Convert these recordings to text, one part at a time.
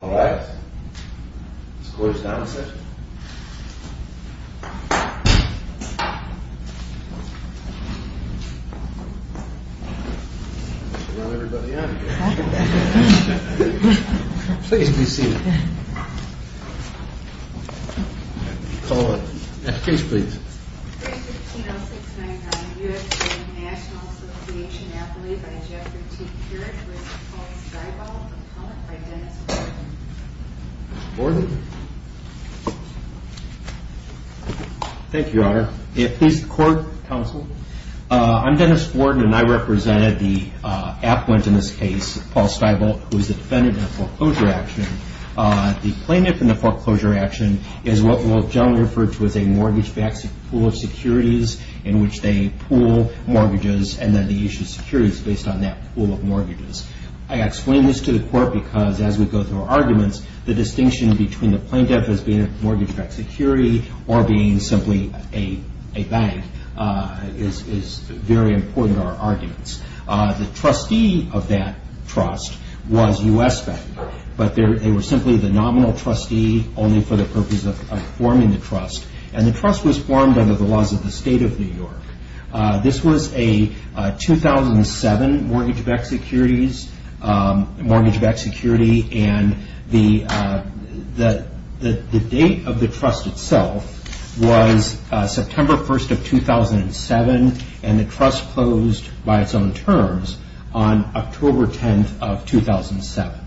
Alright, let's close down the session. Let's get everybody out of here. Please be seated. Call the application please. 315-069-U.S. Bank, National Ass'n v. Napoli by Jeffrey T. Keurig with Paul Stibolt. Mr. Gordon? Thank you, Your Honor. Please, the court, counsel. I'm Dennis Gordon and I represented the affluent in this case, Paul Stibolt, who is the defendant in the foreclosure action. The plaintiff in the foreclosure action is what we'll generally refer to as a mortgage-backed pool of securities in which they pool mortgages and then they issue securities based on that pool of mortgages. I explain this to the court because as we go through our arguments, the distinction between the plaintiff as being a mortgage-backed security or being simply a bank is very important to our arguments. The trustee of that trust was U.S. Bank, but they were simply the nominal trustee only for the purpose of forming the trust and the trust was formed under the laws of the state of New York. This was a 2007 mortgage-backed security and the date of the trust itself was September 1st of 2007 and the trust closed by its own terms on October 10th of 2007.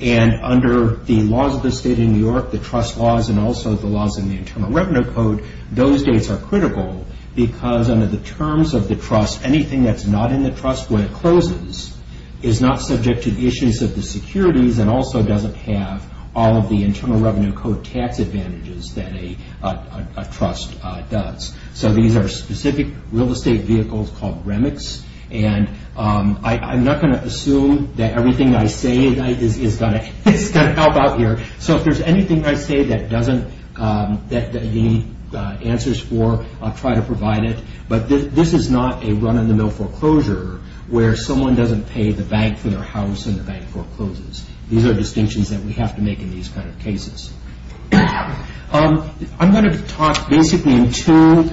And under the laws of the state of New York, the trust laws and also the laws in the Internal Revenue Code, those dates are critical because under the terms of the trust, anything that's not in the trust when it closes is not subject to the issues of the securities and also doesn't have all of the Internal Revenue Code tax advantages that a trust does. So these are specific real estate vehicles called REMICs and I'm not going to assume that everything I say is going to help out here. So if there's anything I say that doesn't need answers for, I'll try to provide it. But this is not a run-of-the-mill foreclosure where someone doesn't pay the bank for their house and the bank forecloses. These are distinctions that we have to make in these kind of cases. I'm going to talk basically in two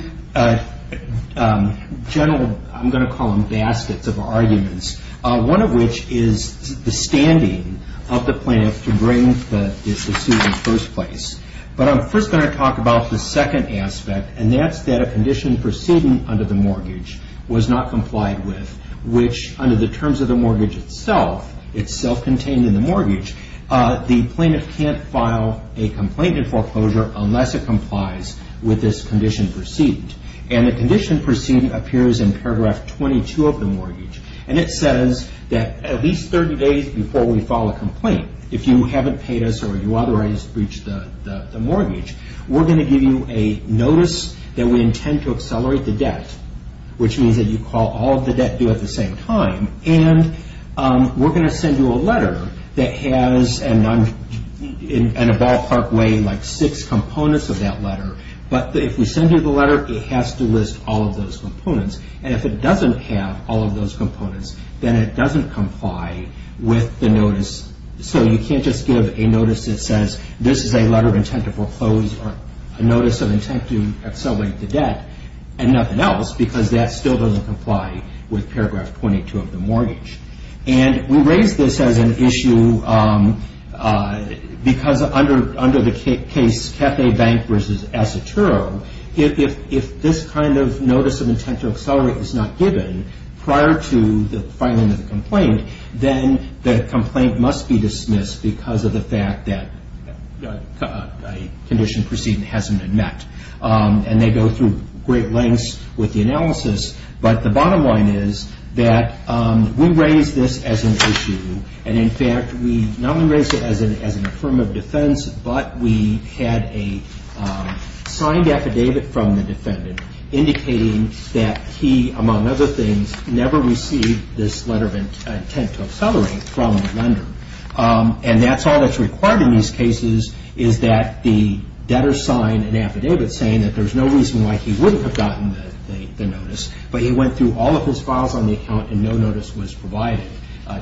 general, I'm going to call them baskets of arguments. One of which is the standing of the plaintiff to bring this issue in the first place. But I'm first going to talk about the second aspect and that's that a condition proceeding under the mortgage was not complied with, which under the terms of the mortgage itself, it's self-contained in the mortgage, the plaintiff can't file a complaint in foreclosure unless it complies with this condition proceeding. And the condition proceeding appears in paragraph 22 of the mortgage. And it says that at least 30 days before we file a complaint, if you haven't paid us or you otherwise breached the mortgage, we're going to give you a notice that we intend to accelerate the debt, which means that you call all of the debt due at the same time. And we're going to send you a letter that has, in a ballpark way, like six components of that letter. But if we send you the letter, it has to list all of those components. And if it doesn't have all of those components, then it doesn't comply with the notice. So you can't just give a notice that says this is a letter of intent to foreclose or a notice of intent to accelerate the debt and nothing else because that still doesn't comply with paragraph 22 of the mortgage. And we raise this as an issue because under the case Cathay Bank v. Assaturo, if this kind of notice of intent to accelerate is not given prior to the filing of the complaint, then the complaint must be dismissed because of the fact that a condition proceeding hasn't been met. And they go through great lengths with the analysis. But the bottom line is that we raise this as an issue. And in fact, we not only raise it as an affirmative defense, but we had a signed affidavit from the defendant indicating that he, among other things, never received this letter of intent to accelerate from the lender. And that's all that's required in these cases is that the debtor sign an affidavit saying that there's no reason why he wouldn't have gotten the notice, but he went through all of his files on the account and no notice was provided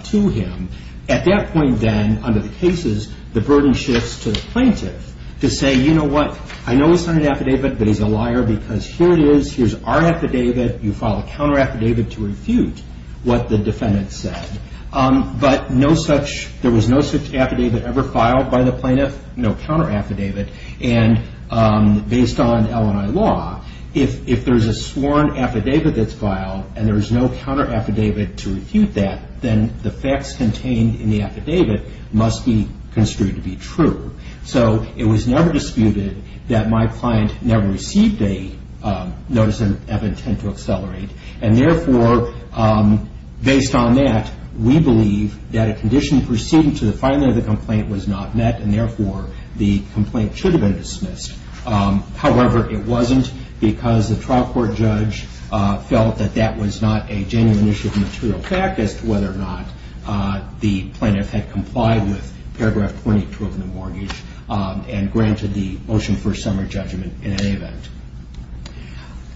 to him. At that point then, under the cases, the burden shifts to the plaintiff to say, you know what? I know it's not an affidavit, but he's a liar because here it is. Here's our affidavit. You file a counter affidavit to refute what the defendant said. But there was no such affidavit ever filed by the plaintiff, no counter affidavit. And based on L&I law, if there's a sworn affidavit that's filed and there's no counter affidavit to refute that, then the facts contained in the affidavit must be construed to be true. So it was never disputed that my client never received a notice of intent to accelerate. And therefore, based on that, we believe that a condition proceeding to the filing of the complaint was not met and therefore the complaint should have been dismissed. However, it wasn't because the trial court judge felt that that was not a genuine issue of material fact as to whether or not the plaintiff had complied with paragraph 20-12 in the mortgage and granted the motion for a summary judgment in any event.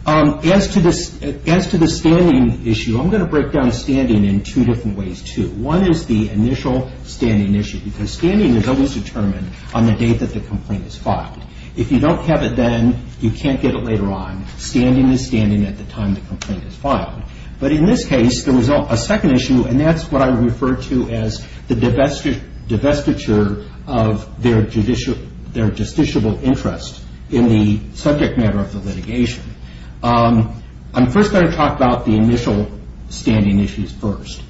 As to the standing issue, I'm going to break down standing in two different ways too. One is the initial standing issue because standing is always determined on the date that the complaint is filed. If you don't have it then, you can't get it later on. Standing is standing at the time the complaint is filed. But in this case, there was a second issue and that's what I refer to as the divestiture of their justiciable interest in the subject matter of the litigation. I'm first going to talk about the initial standing issues first.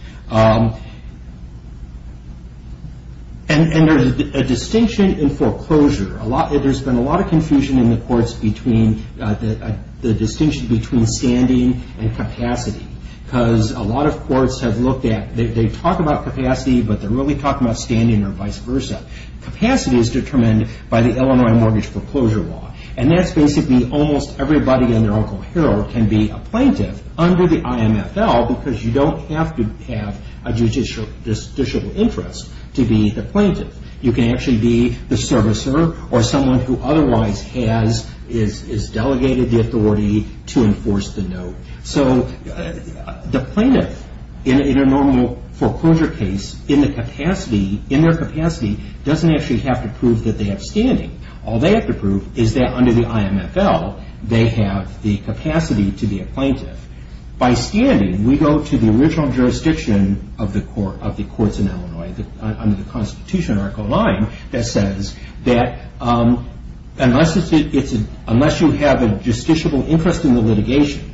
And there's a distinction in foreclosure. There's been a lot of confusion in the courts between the distinction between standing and capacity. Because a lot of courts have looked at, they talk about capacity but they're really talking about standing or vice versa. Capacity is determined by the Illinois Mortgage Foreclosure Law. And that's basically almost everybody and their Uncle Harold can be a plaintiff under the IMFL because you don't have to have a justiciable interest to be the plaintiff. You can actually be the servicer or someone who otherwise has delegated the authority to enforce the note. So the plaintiff in a normal foreclosure case in their capacity doesn't actually have to prove that they have standing. All they have to prove is that under the IMFL they have the capacity to be a plaintiff. By standing we go to the original jurisdiction of the courts in Illinois under the Constitutional Article 9 that says that unless you have a justiciable interest in the litigation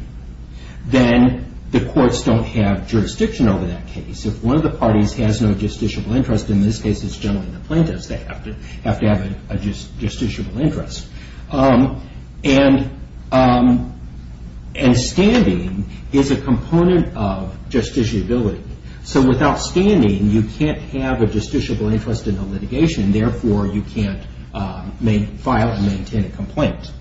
then the courts don't have jurisdiction over that case. If one of the parties has no justiciable interest, in this case it's generally the plaintiffs, they have to have a justiciable interest. And standing is a component of justiciability. So without standing you can't have a justiciable interest in the litigation and therefore you can't file and maintain a complaint.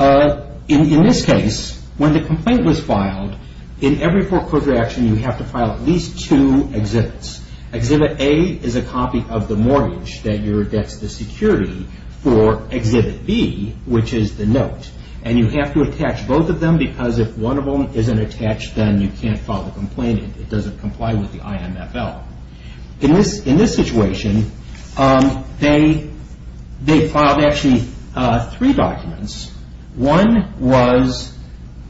In this case, when the complaint was filed, in every foreclosure action you have to file at least two exhibits. Exhibit A is a copy of the mortgage that's the security for Exhibit B, which is the note. And you have to attach both of them because if one of them isn't attached then you can't file the complaint. It doesn't comply with the IMFL. In this situation, they filed actually three documents. One was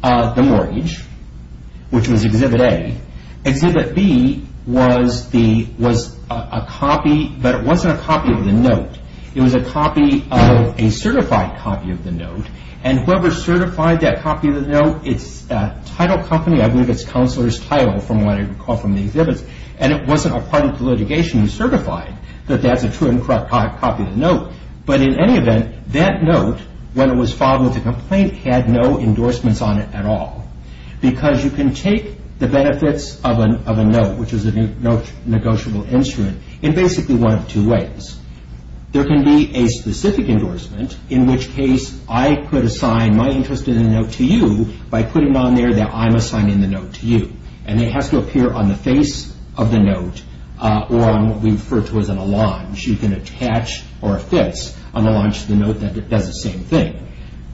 the mortgage, which was Exhibit A. Exhibit B was a copy, but it wasn't a copy of the note. It was a copy of a certified copy of the note. And whoever certified that copy of the note, its title company, I believe it's Counselor's Title from what I recall from the exhibits, and it wasn't a party to the litigation who certified that that's a true and correct copy of the note. But in any event, that note, when it was filed with the complaint, had no endorsements on it at all. Because you can take the benefits of a note, which is a note negotiable instrument, in basically one of two ways. There can be a specific endorsement, in which case I could assign my interest in the note to you by putting on there that I'm assigning the note to you. And it has to appear on the face of the note or on what we refer to as an allonge. You can attach or affix an allonge to the note that does the same thing.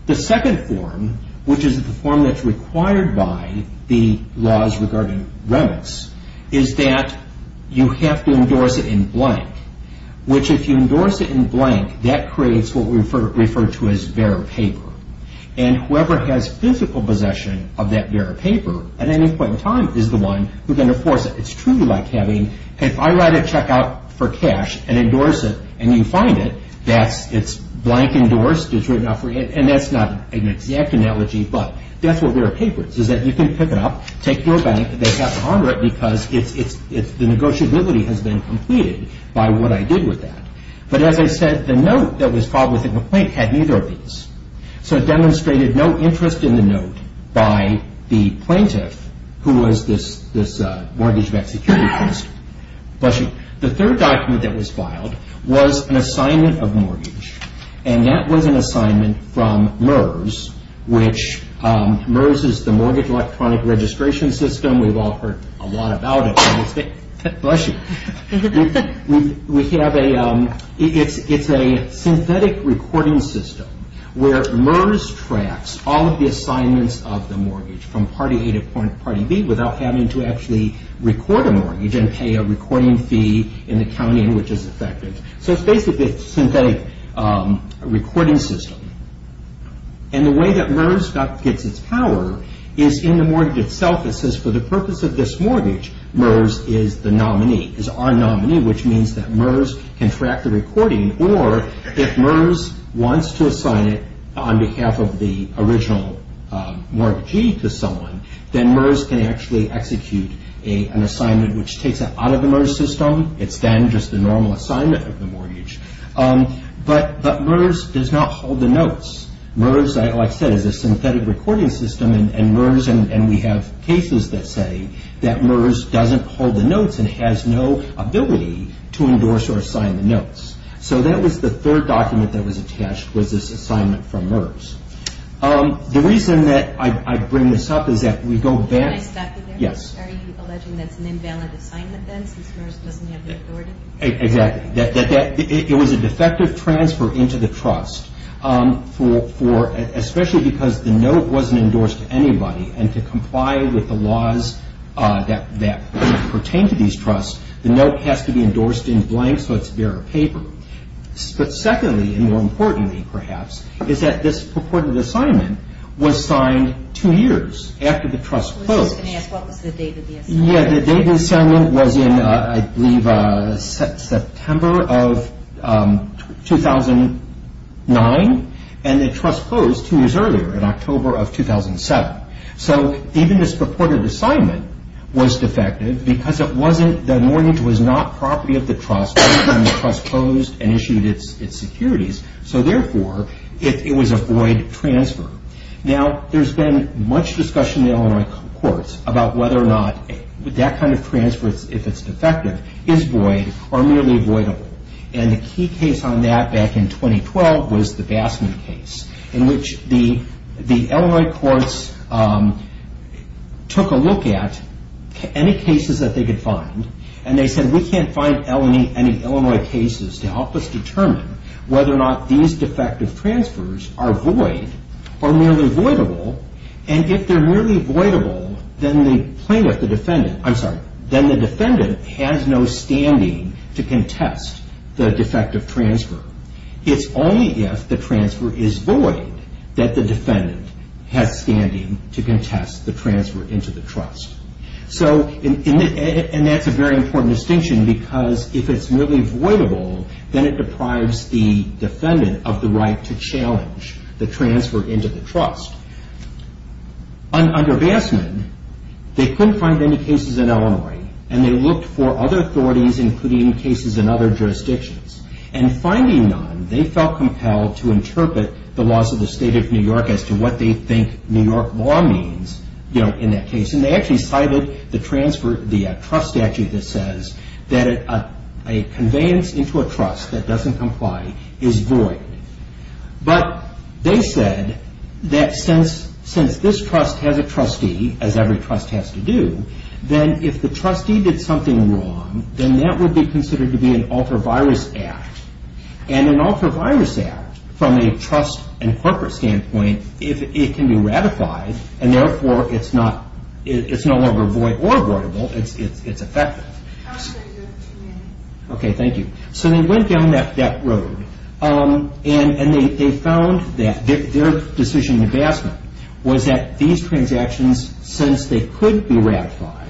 The second form, which is the form that's required by the laws regarding remits, is that you have to endorse it in blank. Which if you endorse it in blank, that creates what we refer to as vera paper. And whoever has physical possession of that vera paper, at any point in time, is the one who's going to force it. It's truly like having, if I write a check out for cash and endorse it, and you find it, it's blank endorsed. And that's not an exact analogy, but that's what vera paper is, is that you can pick it up, take it to a bank, and they have to honor it because the negotiability has been completed by what I did with that. But as I said, the note that was filed with a complaint had neither of these. So it demonstrated no interest in the note by the plaintiff, who was this mortgage-backed securities investor. Bless you. The third document that was filed was an assignment of mortgage. And that was an assignment from MERS, which MERS is the Mortgage Electronic Registration System. We've all heard a lot about it. Bless you. We have a, it's a synthetic recording system, where MERS tracks all of the assignments of the mortgage from party A to party B without having to actually record a mortgage and pay a recording fee in the county in which it's affected. So it's basically a synthetic recording system. And the way that MERS gets its power is in the mortgage itself. It says, for the purpose of this mortgage, MERS is the nominee, is our nominee, which means that MERS can track the recording. Or if MERS wants to assign it on behalf of the original mortgagee to someone, then MERS can actually execute an assignment which takes it out of the MERS system. It's then just a normal assignment of the mortgage. But MERS does not hold the notes. MERS, like I said, is a synthetic recording system. And MERS, and we have cases that say that MERS doesn't hold the notes and has no ability to endorse or assign the notes. So that was the third document that was attached was this assignment from MERS. The reason that I bring this up is that we go back... Can I stop you there? Yes. Are you alleging that's an invalid assignment then since MERS doesn't have the authority? Exactly. It was a defective transfer into the trust, especially because the note wasn't endorsed to anybody. And to comply with the laws that pertain to these trusts, the note has to be endorsed in blank, so it's bare of paper. But secondly, and more importantly perhaps, is that this purported assignment was signed two years after the trust closed. I was just going to ask, what was the date of the assignment? Yeah, the date of the assignment was in, I believe, September of 2009, and the trust closed two years earlier in October of 2007. So even this purported assignment was defective because it wasn't... So therefore, it was a void transfer. Now, there's been much discussion in Illinois courts about whether or not that kind of transfer, if it's defective, is void or merely voidable. And the key case on that back in 2012 was the Bassman case, in which the Illinois courts took a look at any cases that they could find, and they said, we can't find any Illinois cases to help us determine whether or not these defective transfers are void or merely voidable. And if they're merely voidable, then the defendant has no standing to contest the defective transfer. It's only if the transfer is void that the defendant has standing to contest the transfer into the trust. And that's a very important distinction because if it's merely voidable, then it deprives the defendant of the right to challenge the transfer into the trust. Under Bassman, they couldn't find any cases in Illinois, and they looked for other authorities, including cases in other jurisdictions. And finding none, they felt compelled to interpret the laws of the state of New York as to what they think New York law means in that case. And they actually cited the trust statute that says that a conveyance into a trust that doesn't comply is void. But they said that since this trust has a trustee, as every trust has to do, then if the trustee did something wrong, then that would be considered to be an alter virus act. And an alter virus act, from a trust and corporate standpoint, it can be ratified, and therefore it's no longer void or voidable. It's effective. Okay, thank you. So they went down that road, and they found that their decision in Bassman was that these transactions, since they could be ratified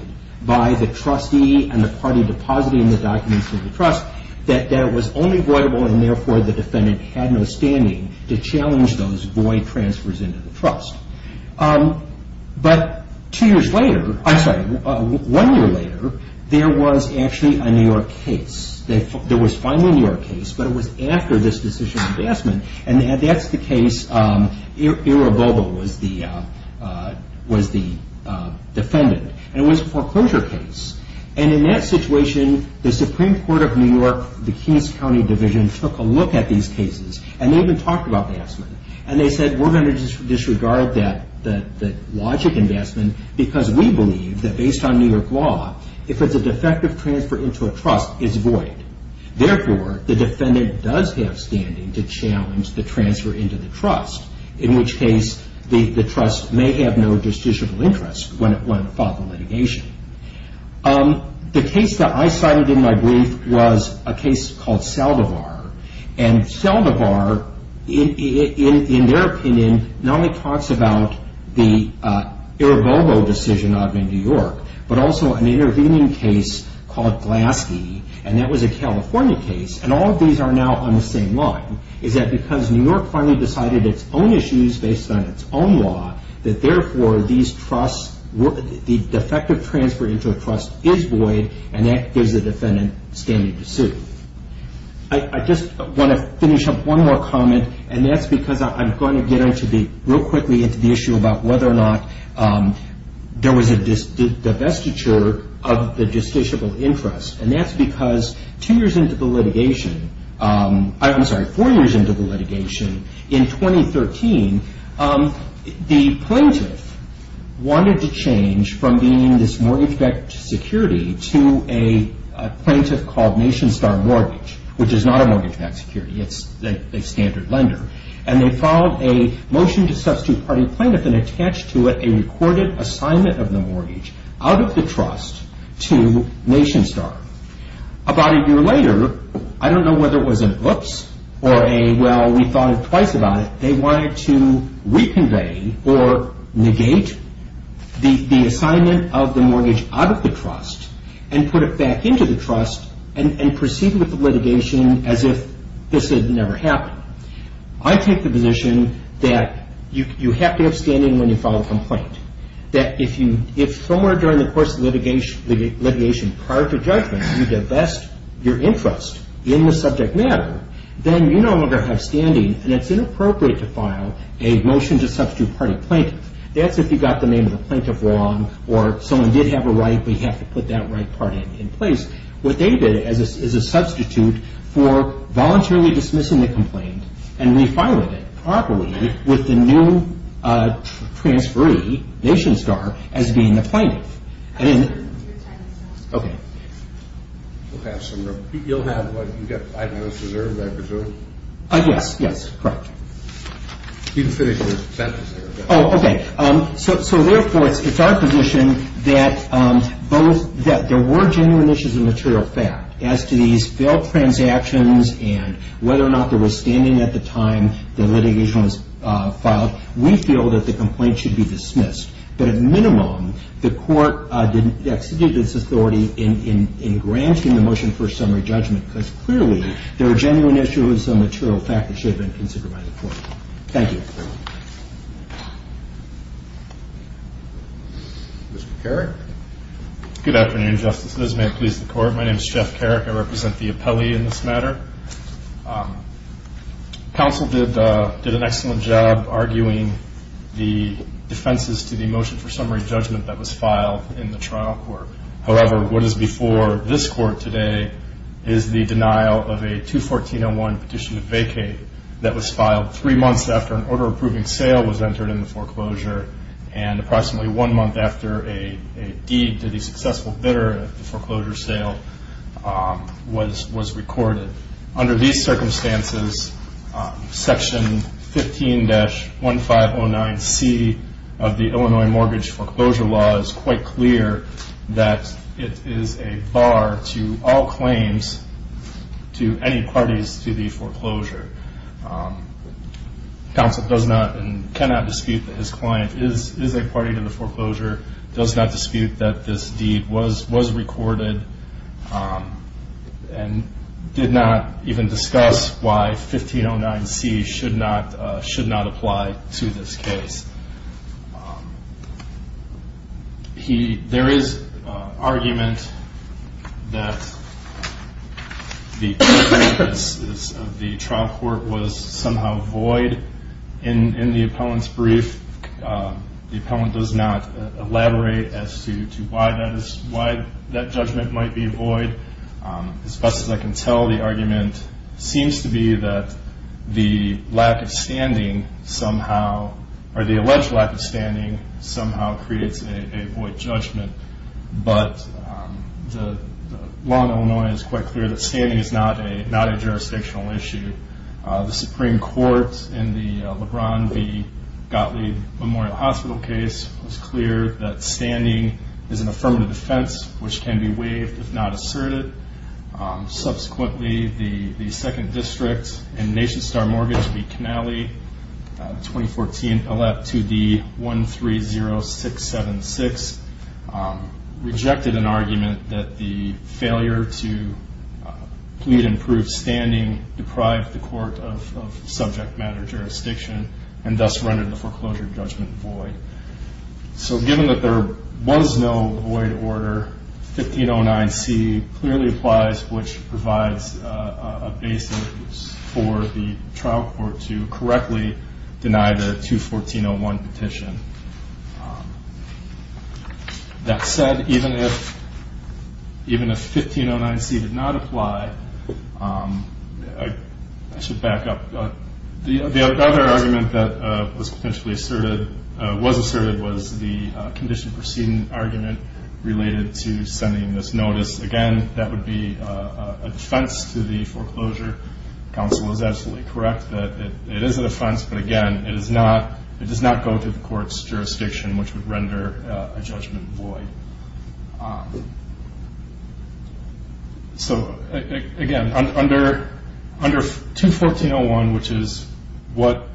by the trustee and the party depositing the documents to the trust, that it was only voidable, and therefore the defendant had no standing to challenge those void transfers into the trust. But two years later, I'm sorry, one year later, there was actually a New York case. There was finally a New York case, but it was after this decision in Bassman. And that's the case, Ira Bobo was the defendant. And it was a foreclosure case. And in that situation, the Supreme Court of New York, the Keynes County Division, took a look at these cases, and they even talked about Bassman, and they said we're going to disregard that logic in Bassman because we believe that based on New York law, if it's a defective transfer into a trust, it's void. Therefore, the defendant does have standing to challenge the transfer into the trust, in which case the trust may have no justiciable interest when it fought the litigation. The case that I cited in my brief was a case called Saldivar. And Saldivar, in their opinion, not only talks about the Ira Bobo decision in New York, but also an intervening case called Glaskey, and that was a California case. And all of these are now on the same line. Is that because New York finally decided its own issues based on its own law, that therefore the defective transfer into a trust is void, and that gives the defendant standing to sue. I just want to finish up one more comment, and that's because I'm going to get real quickly into the issue about whether or not there was a divestiture of the justiciable interest. And that's because two years into the litigation, I'm sorry, four years into the litigation, in 2013, the plaintiff wanted to change from being this mortgage-backed security to a plaintiff called NationStar Mortgage, which is not a mortgage-backed security. It's a standard lender. And they filed a motion to substitute party plaintiff and attach to it a recorded assignment of the mortgage out of the trust to NationStar. About a year later, I don't know whether it was an oops or a well, we thought twice about it, they wanted to reconvey or negate the assignment of the mortgage out of the trust and put it back into the trust and proceed with the litigation as if this had never happened. I take the position that you have to have standing when you file a complaint. That if somewhere during the course of litigation, prior to judgment, you divest your interest in the subject matter, then you no longer have standing and it's inappropriate to file a motion to substitute party plaintiff. That's if you got the name of the plaintiff wrong or someone did have a right, but you have to put that right part in place. What they did is a substitute for voluntarily dismissing the complaint and refiling it properly with the new transferee, NationStar, as being the plaintiff. Okay. You'll have what you get five years reserved, I presume? Yes, yes, correct. You can finish your sentence there. Oh, okay. So, therefore, it's our position that there were genuine issues of material fact as to these failed transactions and whether or not there was standing at the time the litigation was filed. We feel that the complaint should be dismissed, but at minimum, the court exited its authority in granting the motion for summary judgment because clearly there are genuine issues of material fact that should have been considered by the court. Thank you. Mr. Carrick. Good afternoon, Justice. As may it please the Court, my name is Jeff Carrick. I represent the appellee in this matter. Counsel did an excellent job arguing the defenses to the motion for summary judgment that was filed in the trial court. However, what is before this Court today is the denial of a 214-01 petition to vacate that was filed three months after an order-approving sale was entered in the foreclosure and approximately one month after a deed to the successful bidder of the foreclosure sale was recorded. Under these circumstances, Section 15-1509C of the Illinois Mortgage Foreclosure Law was quite clear that it is a bar to all claims to any parties to the foreclosure. Counsel does not and cannot dispute that his client is a party to the foreclosure, does not dispute that this deed was recorded, and did not even discuss why 1509C should not apply to this case. There is argument that the trial court was somehow void in the appellant's brief. The appellant does not elaborate as to why that judgment might be void. As best as I can tell, the argument seems to be that the alleged lack of standing somehow creates a void judgment, but the law in Illinois is quite clear that standing is not a jurisdictional issue. The Supreme Court in the LeBron v. Gottlieb Memorial Hospital case was clear that standing is an affirmative defense which can be waived if not asserted. Subsequently, the 2nd District and Nation Star Mortgage v. Canale 2014, Appellant 2D-130676 rejected an argument that the failure to plead and prove standing deprived the Court of subject matter jurisdiction and thus rendered the foreclosure judgment void. So given that there was no void order, 1509C clearly applies, which provides a basis for the trial court to correctly deny the 21401 petition. That said, even if 1509C did not apply, I should back up. The other argument that was asserted was the condition proceeding argument related to sending this notice. Again, that would be a defense to the foreclosure. Counsel is absolutely correct that it is a defense, but again, it does not go through the Court's jurisdiction, which would render a judgment void. So again, under 21401, which is what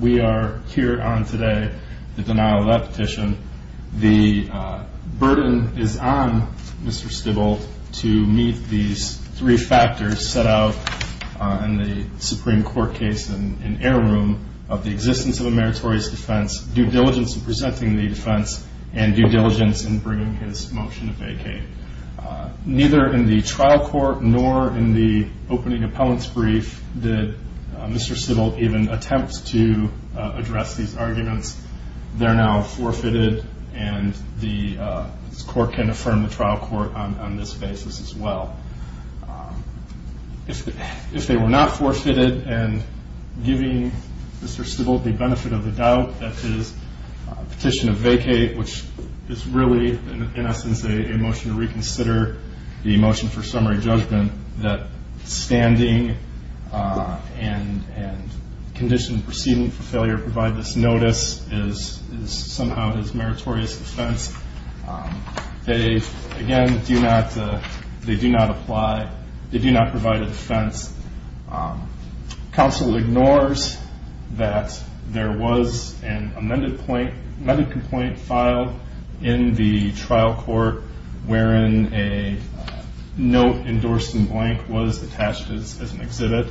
we are here on today, the denial of that petition, the burden is on Mr. Stibbult to meet these three factors set out in the Supreme Court case in Heirloom of the existence of a meritorious defense, due diligence in presenting the defense, and due diligence in bringing his motion to vacate. Neither in the trial court nor in the opening appellant's brief did Mr. Stibbult even attempt to address these arguments. They are now forfeited, and the Court can affirm the trial court on this basis as well. If they were not forfeited, and giving Mr. Stibbult the benefit of the doubt that his petition to vacate, which is really, in essence, a motion to reconsider the motion for summary judgment, that standing and condition proceeding for failure to provide this notice is somehow his meritorious defense, they, again, do not apply. They do not provide a defense. Counsel ignores that there was an amended complaint filed in the trial court wherein a note endorsed in blank was attached as an exhibit.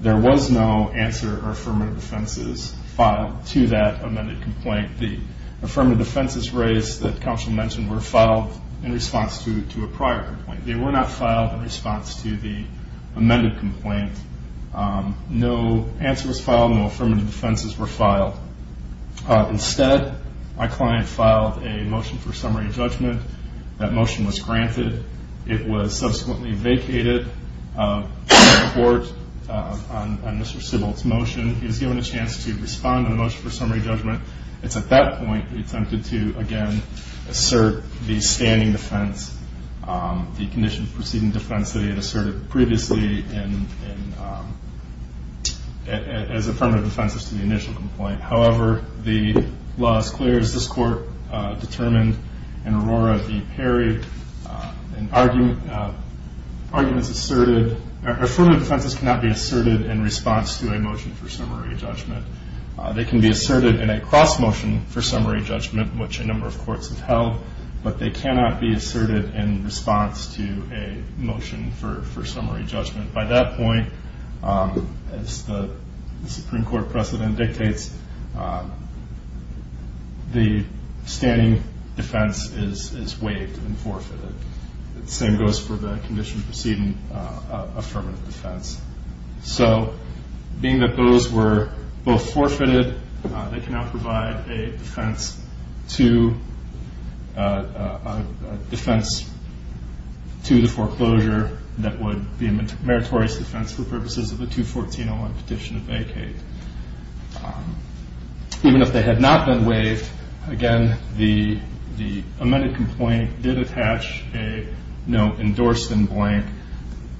There was no answer or affirmative defenses filed to that amended complaint. The affirmative defenses raised that counsel mentioned were filed in response to a prior complaint. They were not filed in response to the amended complaint. No answer was filed. No affirmative defenses were filed. Instead, my client filed a motion for summary judgment. That motion was granted. It was subsequently vacated by the Court on Mr. Stibbult's motion. He was given a chance to respond to the motion for summary judgment. It's at that point that he attempted to, again, assert the standing defense, the condition proceeding defense that he had asserted previously as affirmative defenses to the initial complaint. However, the law is clear. As this Court determined in Aurora v. Perry, affirmative defenses cannot be asserted in response to a motion for summary judgment. They can be asserted in a cross-motion for summary judgment, which a number of courts have held, but they cannot be asserted in response to a motion for summary judgment. By that point, as the Supreme Court precedent dictates, the standing defense is waived and forfeited. The same goes for the condition proceeding affirmative defense. So being that those were both forfeited, they cannot provide a defense to the foreclosure that would be a meritorious defense for purposes of a 214-01 petition to vacate. Even if they had not been waived, again, the amended complaint did attach a note,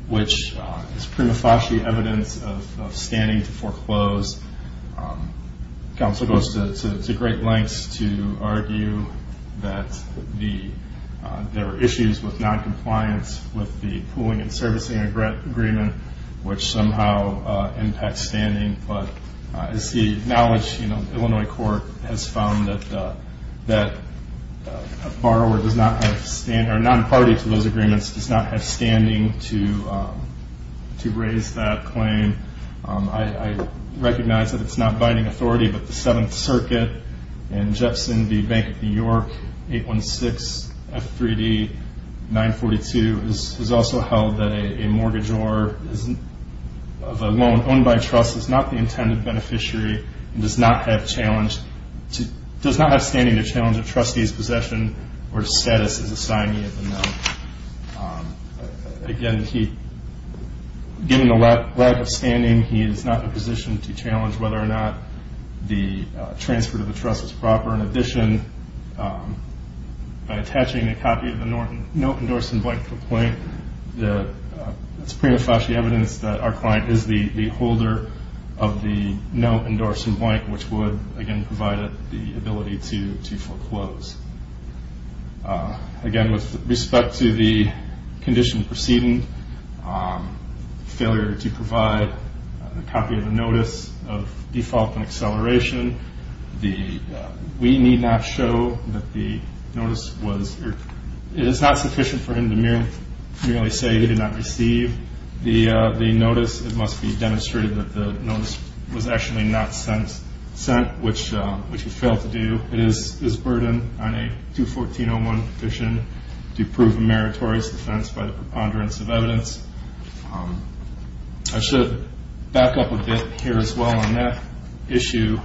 which is prima facie evidence of standing to foreclose. Counsel goes to great lengths to argue that there are issues with noncompliance with the pooling and servicing agreement, which somehow impacts standing. But as the knowledge, the Illinois court has found that a borrower does not have standing or a non-party to those agreements does not have standing to raise that claim. I recognize that it's not binding authority, but the Seventh Circuit and Jefferson v. Bank of New York, 816 F3D 942 has also held that a mortgagor of a loan owned by a trust is not the intended beneficiary and does not have standing to challenge a trustee's possession or status as a signee of the loan. Again, given the lack of standing, he is not in a position to challenge whether or not the transfer to the trust is proper. In addition, by attaching a copy of the note endorsing blank complaint, it's prima facie evidence that our client is the holder of the note endorsing blank, which would, again, provide the ability to foreclose. Again, with respect to the condition preceding failure to provide a copy of the notice of default and acceleration, we need not show that the notice is not sufficient for him to merely say he did not receive the notice. It must be demonstrated that the notice was actually not sent, which he failed to do. It is his burden on a 214-01 petition to prove a meritorious defense by the preponderance of evidence. I should back up a bit here as well on that issue.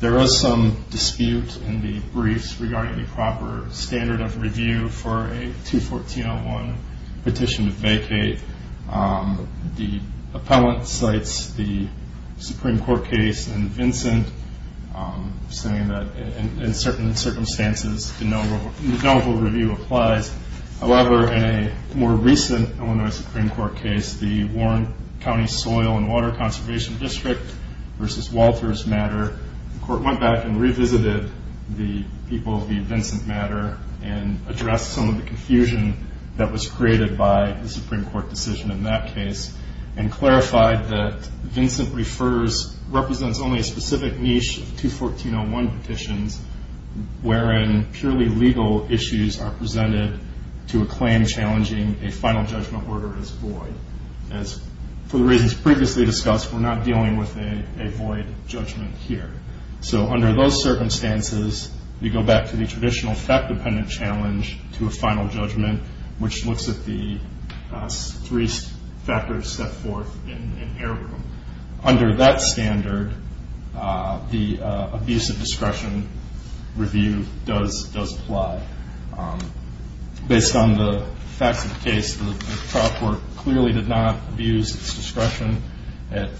There is some dispute in the briefs regarding the proper standard of review for a 214-01 petition to vacate. The appellant cites the Supreme Court case in Vincent, saying that in certain circumstances, de novo review applies. However, in a more recent Illinois Supreme Court case, the Warren County Soil and Water Conservation District versus Walters matter, the court went back and revisited the people of the Vincent matter and addressed some of the confusion that was created by the Supreme Court decision in that case and clarified that Vincent represents only a specific niche of 214-01 petitions, wherein purely legal issues are presented to a claim challenging a final judgment order as void. As for the reasons previously discussed, we're not dealing with a void judgment here. So under those circumstances, you go back to the traditional fact-dependent challenge to a final judgment, which looks at the three factors set forth in airroom. Under that standard, the abuse of discretion review does apply. Based on the facts of the case, the trial court clearly did not abuse its discretion at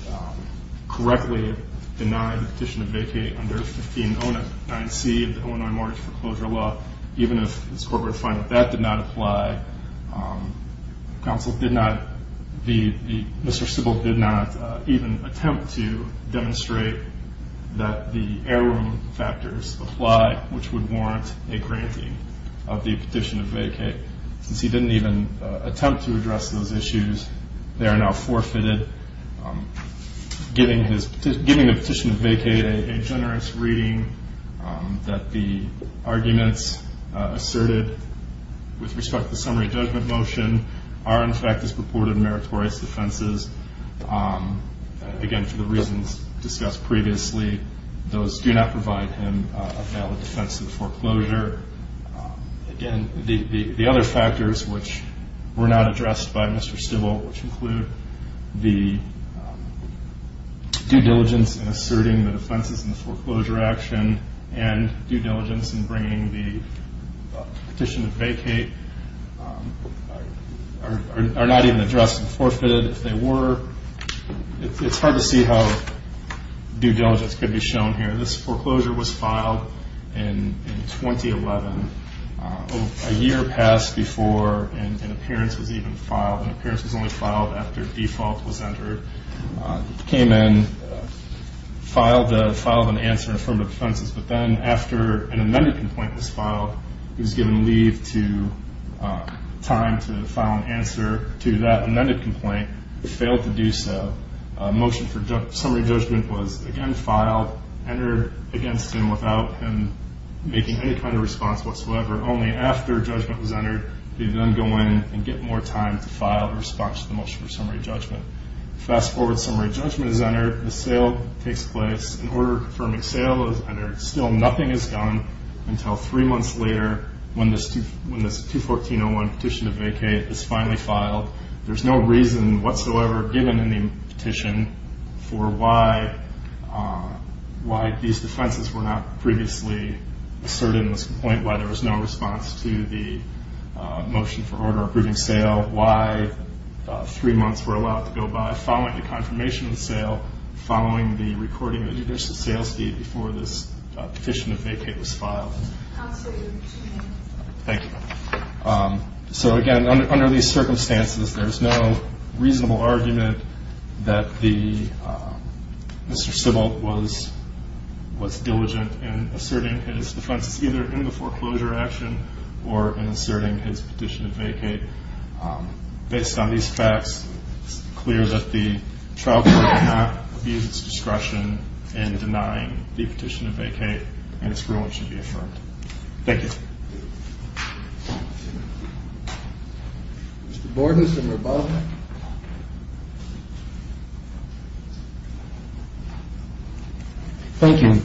correctly denying the petition to vacate under 1509C of the Illinois Mortgage Foreclosure Law, even if this corporate fine of that did not apply. Counsel did not, Mr. Sybil did not even attempt to demonstrate that the airroom factors apply, which would warrant a granting of the petition to vacate. Since he didn't even attempt to address those issues, they are now forfeited. Giving the petition to vacate a generous reading, that the arguments asserted with respect to the summary judgment motion are, in fact, as purported meritorious defenses, again, for the reasons discussed previously. Those do not provide him a valid defense of foreclosure. Again, the other factors which were not addressed by Mr. Sybil, which include the due diligence in asserting the defenses in the foreclosure action and due diligence in bringing the petition to vacate, are not even addressed and forfeited. If they were, it's hard to see how due diligence could be shown here. This foreclosure was filed in 2011, a year passed before an appearance was even filed. An appearance was only filed after default was entered. It came in, filed an answer in front of the defenses, but then after an amended complaint was filed, it was given leave to time to file an answer to that amended complaint. It failed to do so. Motion for summary judgment was, again, filed, entered against him without him making any kind of response whatsoever. Only after judgment was entered did he then go in and get more time to file a response to the motion for summary judgment. Fast forward, summary judgment is entered. The sale takes place. An order confirming sale is entered. Still nothing is done until three months later when this 214-01 petition to vacate is finally filed. There's no reason whatsoever given in the petition for why these defenses were not previously asserted in this complaint, why there was no response to the motion for order approving sale, why three months were allowed to go by following the confirmation of the sale, following the recording of the judicial sales deed before this petition to vacate was filed. Thank you. So, again, under these circumstances, there's no reasonable argument that Mr. Sybil was diligent in asserting his defense. It's either in the foreclosure action or in asserting his petition to vacate. Based on these facts, it's clear that the trial court cannot abuse its discretion in denying the petition to vacate, and its ruling should be affirmed. Thank you. Mr. Borgeson or Baldwin? Thank you.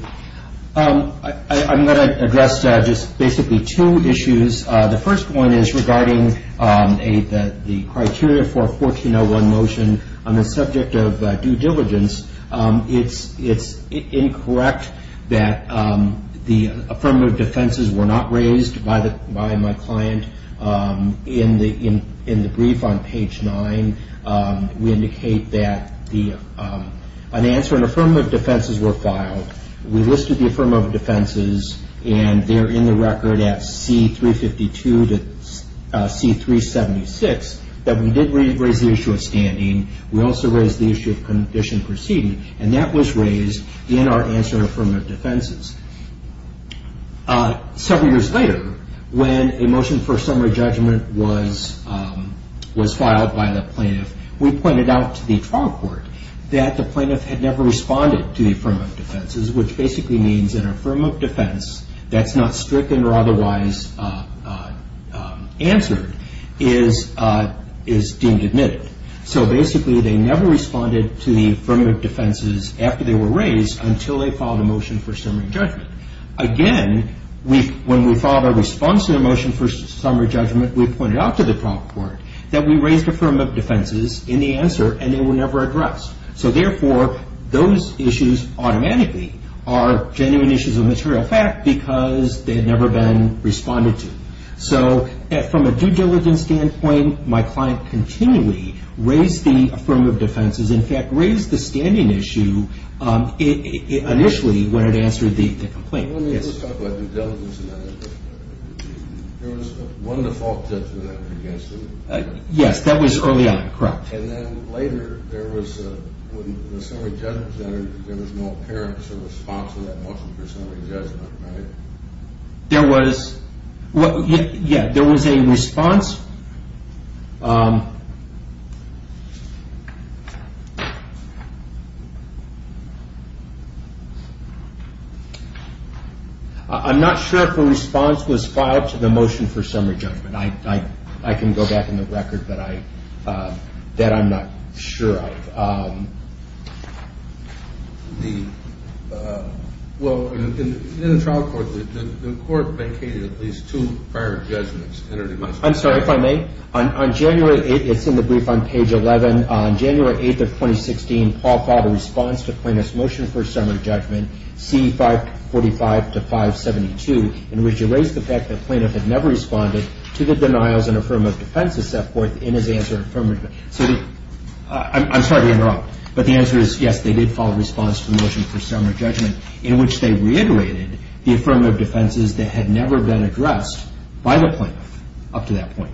I'm going to address just basically two issues. The first one is regarding the criteria for a 14-01 motion on the subject of due diligence. It's incorrect that the affirmative defenses were not raised by my client. In the brief on page 9, we indicate that an answer and affirmative defenses were filed. We listed the affirmative defenses, and they're in the record at C352 to C376, that we did raise the issue of standing. We also raised the issue of condition proceeding, and that was raised in our answer and affirmative defenses. Several years later, when a motion for a summary judgment was filed by the plaintiff, we pointed out to the trial court that the plaintiff had never responded to the affirmative defenses, which basically means an affirmative defense that's not stricken or otherwise answered is deemed admitted. So basically, they never responded to the affirmative defenses after they were raised until they filed a motion for summary judgment. Again, when we filed a response to the motion for summary judgment, we pointed out to the trial court that we raised affirmative defenses in the answer, and they were never addressed. So therefore, those issues automatically are genuine issues of material fact because they had never been responded to. So from a due diligence standpoint, my client continually raised the affirmative defenses. In fact, raised the standing issue initially when it answered the complaint. Let me just talk about due diligence a minute. There was one default judgment against him. Yes, that was early on, correct. And then later, when the summary judgment was entered, there was no apparent response to that motion for summary judgment, right? There was a response. I'm not sure if a response was filed to the motion for summary judgment. I can go back in the record that I'm not sure of. Well, in the trial court, the court vacated at least two prior judgments. I'm sorry, if I may. On January 8th, it's in the brief on page 11. On January 8th of 2016, Paul filed a response to plaintiff's motion for summary judgment, C545-572, in which he raised the fact that the plaintiff had never responded to the denials and affirmative defenses set forth in his answer. I'm sorry to interrupt, but the answer is yes, they did file a response to the motion for summary judgment in which they reiterated the affirmative defenses that had never been addressed by the plaintiff up to that point.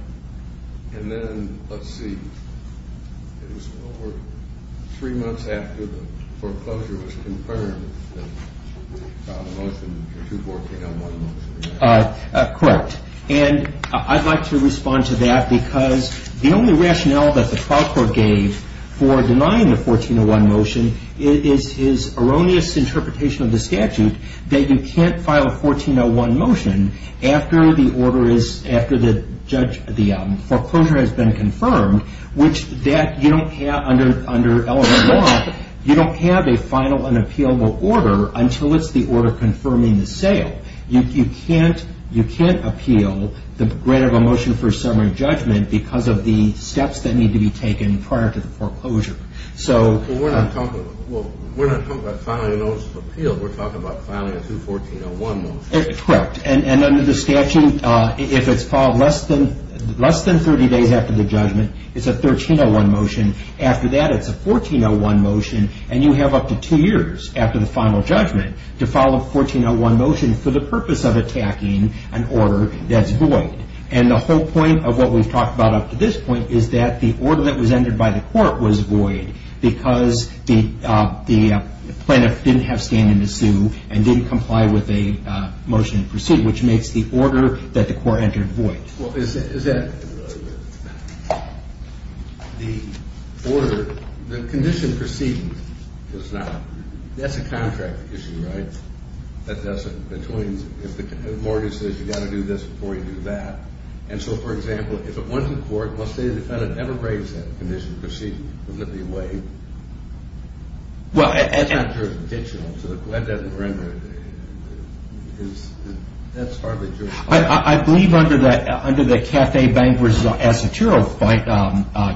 Correct. And I'd like to respond to that because the only rationale that the trial court gave for denying the 1401 motion is his erroneous interpretation of the statute that you can't file a 1401 motion after the foreclosure has been confirmed, which that you don't have under element one. You don't have a final and appealable order until it's the order confirming the sale. You can't appeal the grant of a motion for summary judgment because of the steps that need to be taken prior to the foreclosure. Well, we're not talking about filing a motion of appeal. We're talking about filing a 214-01 motion. Correct. And under the statute, if it's filed less than 30 days after the judgment, it's a 1301 motion. After that, it's a 1401 motion, and you have up to two years after the final judgment to follow a 1401 motion for the purpose of attacking an order that's void. And the whole point of what we've talked about up to this point is that the order that was entered by the court was void because the plaintiff didn't have standing to sue and didn't comply with a motion to proceed, which makes the order that the court entered void. Well, is that the order? The condition proceeding does not. That's a contract issue, right? If the court says you've got to do this before you do that. And so, for example, if it went to court, must a defendant ever raise that condition proceeding? Wouldn't it be a waive? Well, that's not jurisdictional, so that doesn't render it. That's hardly jurisdictional. I believe under the Café Bank v. Asotero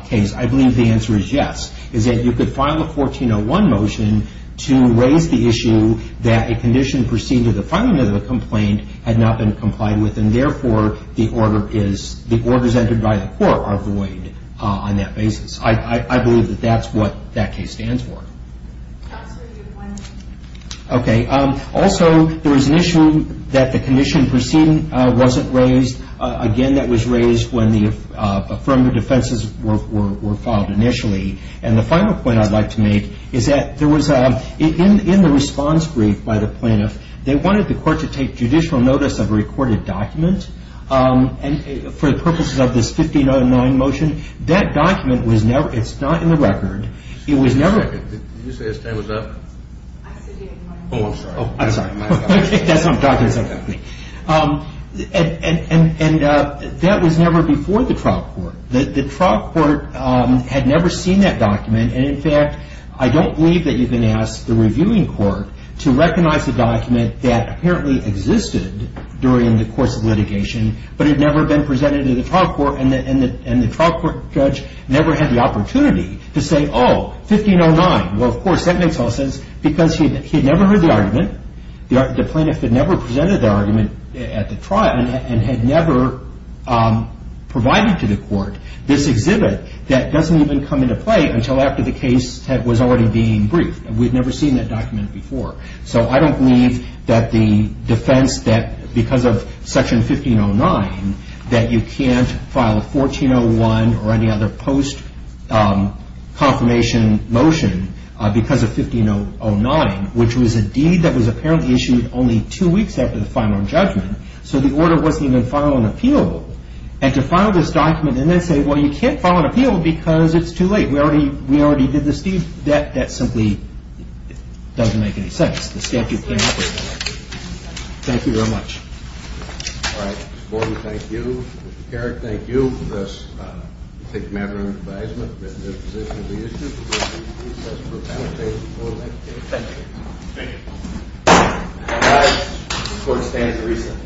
case, I believe the answer is yes, is that you could file a 1401 motion to raise the issue that a condition proceeding to the filing of the complaint had not been complied with and, therefore, the orders entered by the court are void on that basis. I believe that that's what that case stands for. Counsel, do you have one? Okay. Also, there was an issue that the condition proceeding wasn't raised. Again, that was raised when the affirmative defenses were filed initially. And the final point I'd like to make is that there was a – in the response brief by the plaintiff, they wanted the court to take judicial notice of a recorded document. And for the purposes of this 1509 motion, that document was never – it's not in the record. It was never – Did you say his name was up? Oh, I'm sorry. Oh, I'm sorry. That's what I'm talking about. And that was never before the trial court. The trial court had never seen that document. And, in fact, I don't believe that you can ask the reviewing court to recognize a document that apparently existed during the course of litigation but had never been presented to the trial court and the trial court judge never had the opportunity to say, oh, 1509. Well, of course, that makes all sense because he had never heard the argument. The plaintiff had never presented the argument at the trial and had never provided to the court this exhibit that doesn't even come into play until after the case was already being briefed. We'd never seen that document before. So I don't believe that the defense that because of Section 1509 that you can't file a 1401 or any other post-confirmation motion because of 1509, which was a deed that was apparently issued only two weeks after the final judgment, so the order wasn't even final and appealable, and to file this document and then say, well, you can't file an appeal because it's too late. We already did this deed. That simply doesn't make any sense. Thank you very much. All right. Mr. Gordon, thank you. Mr. Carrick, thank you. This is a matter of advisement. This is the position of the district. We'll be discussing the final statement before the next hearing. Thank you. Thank you. All right. The court stands reasoned.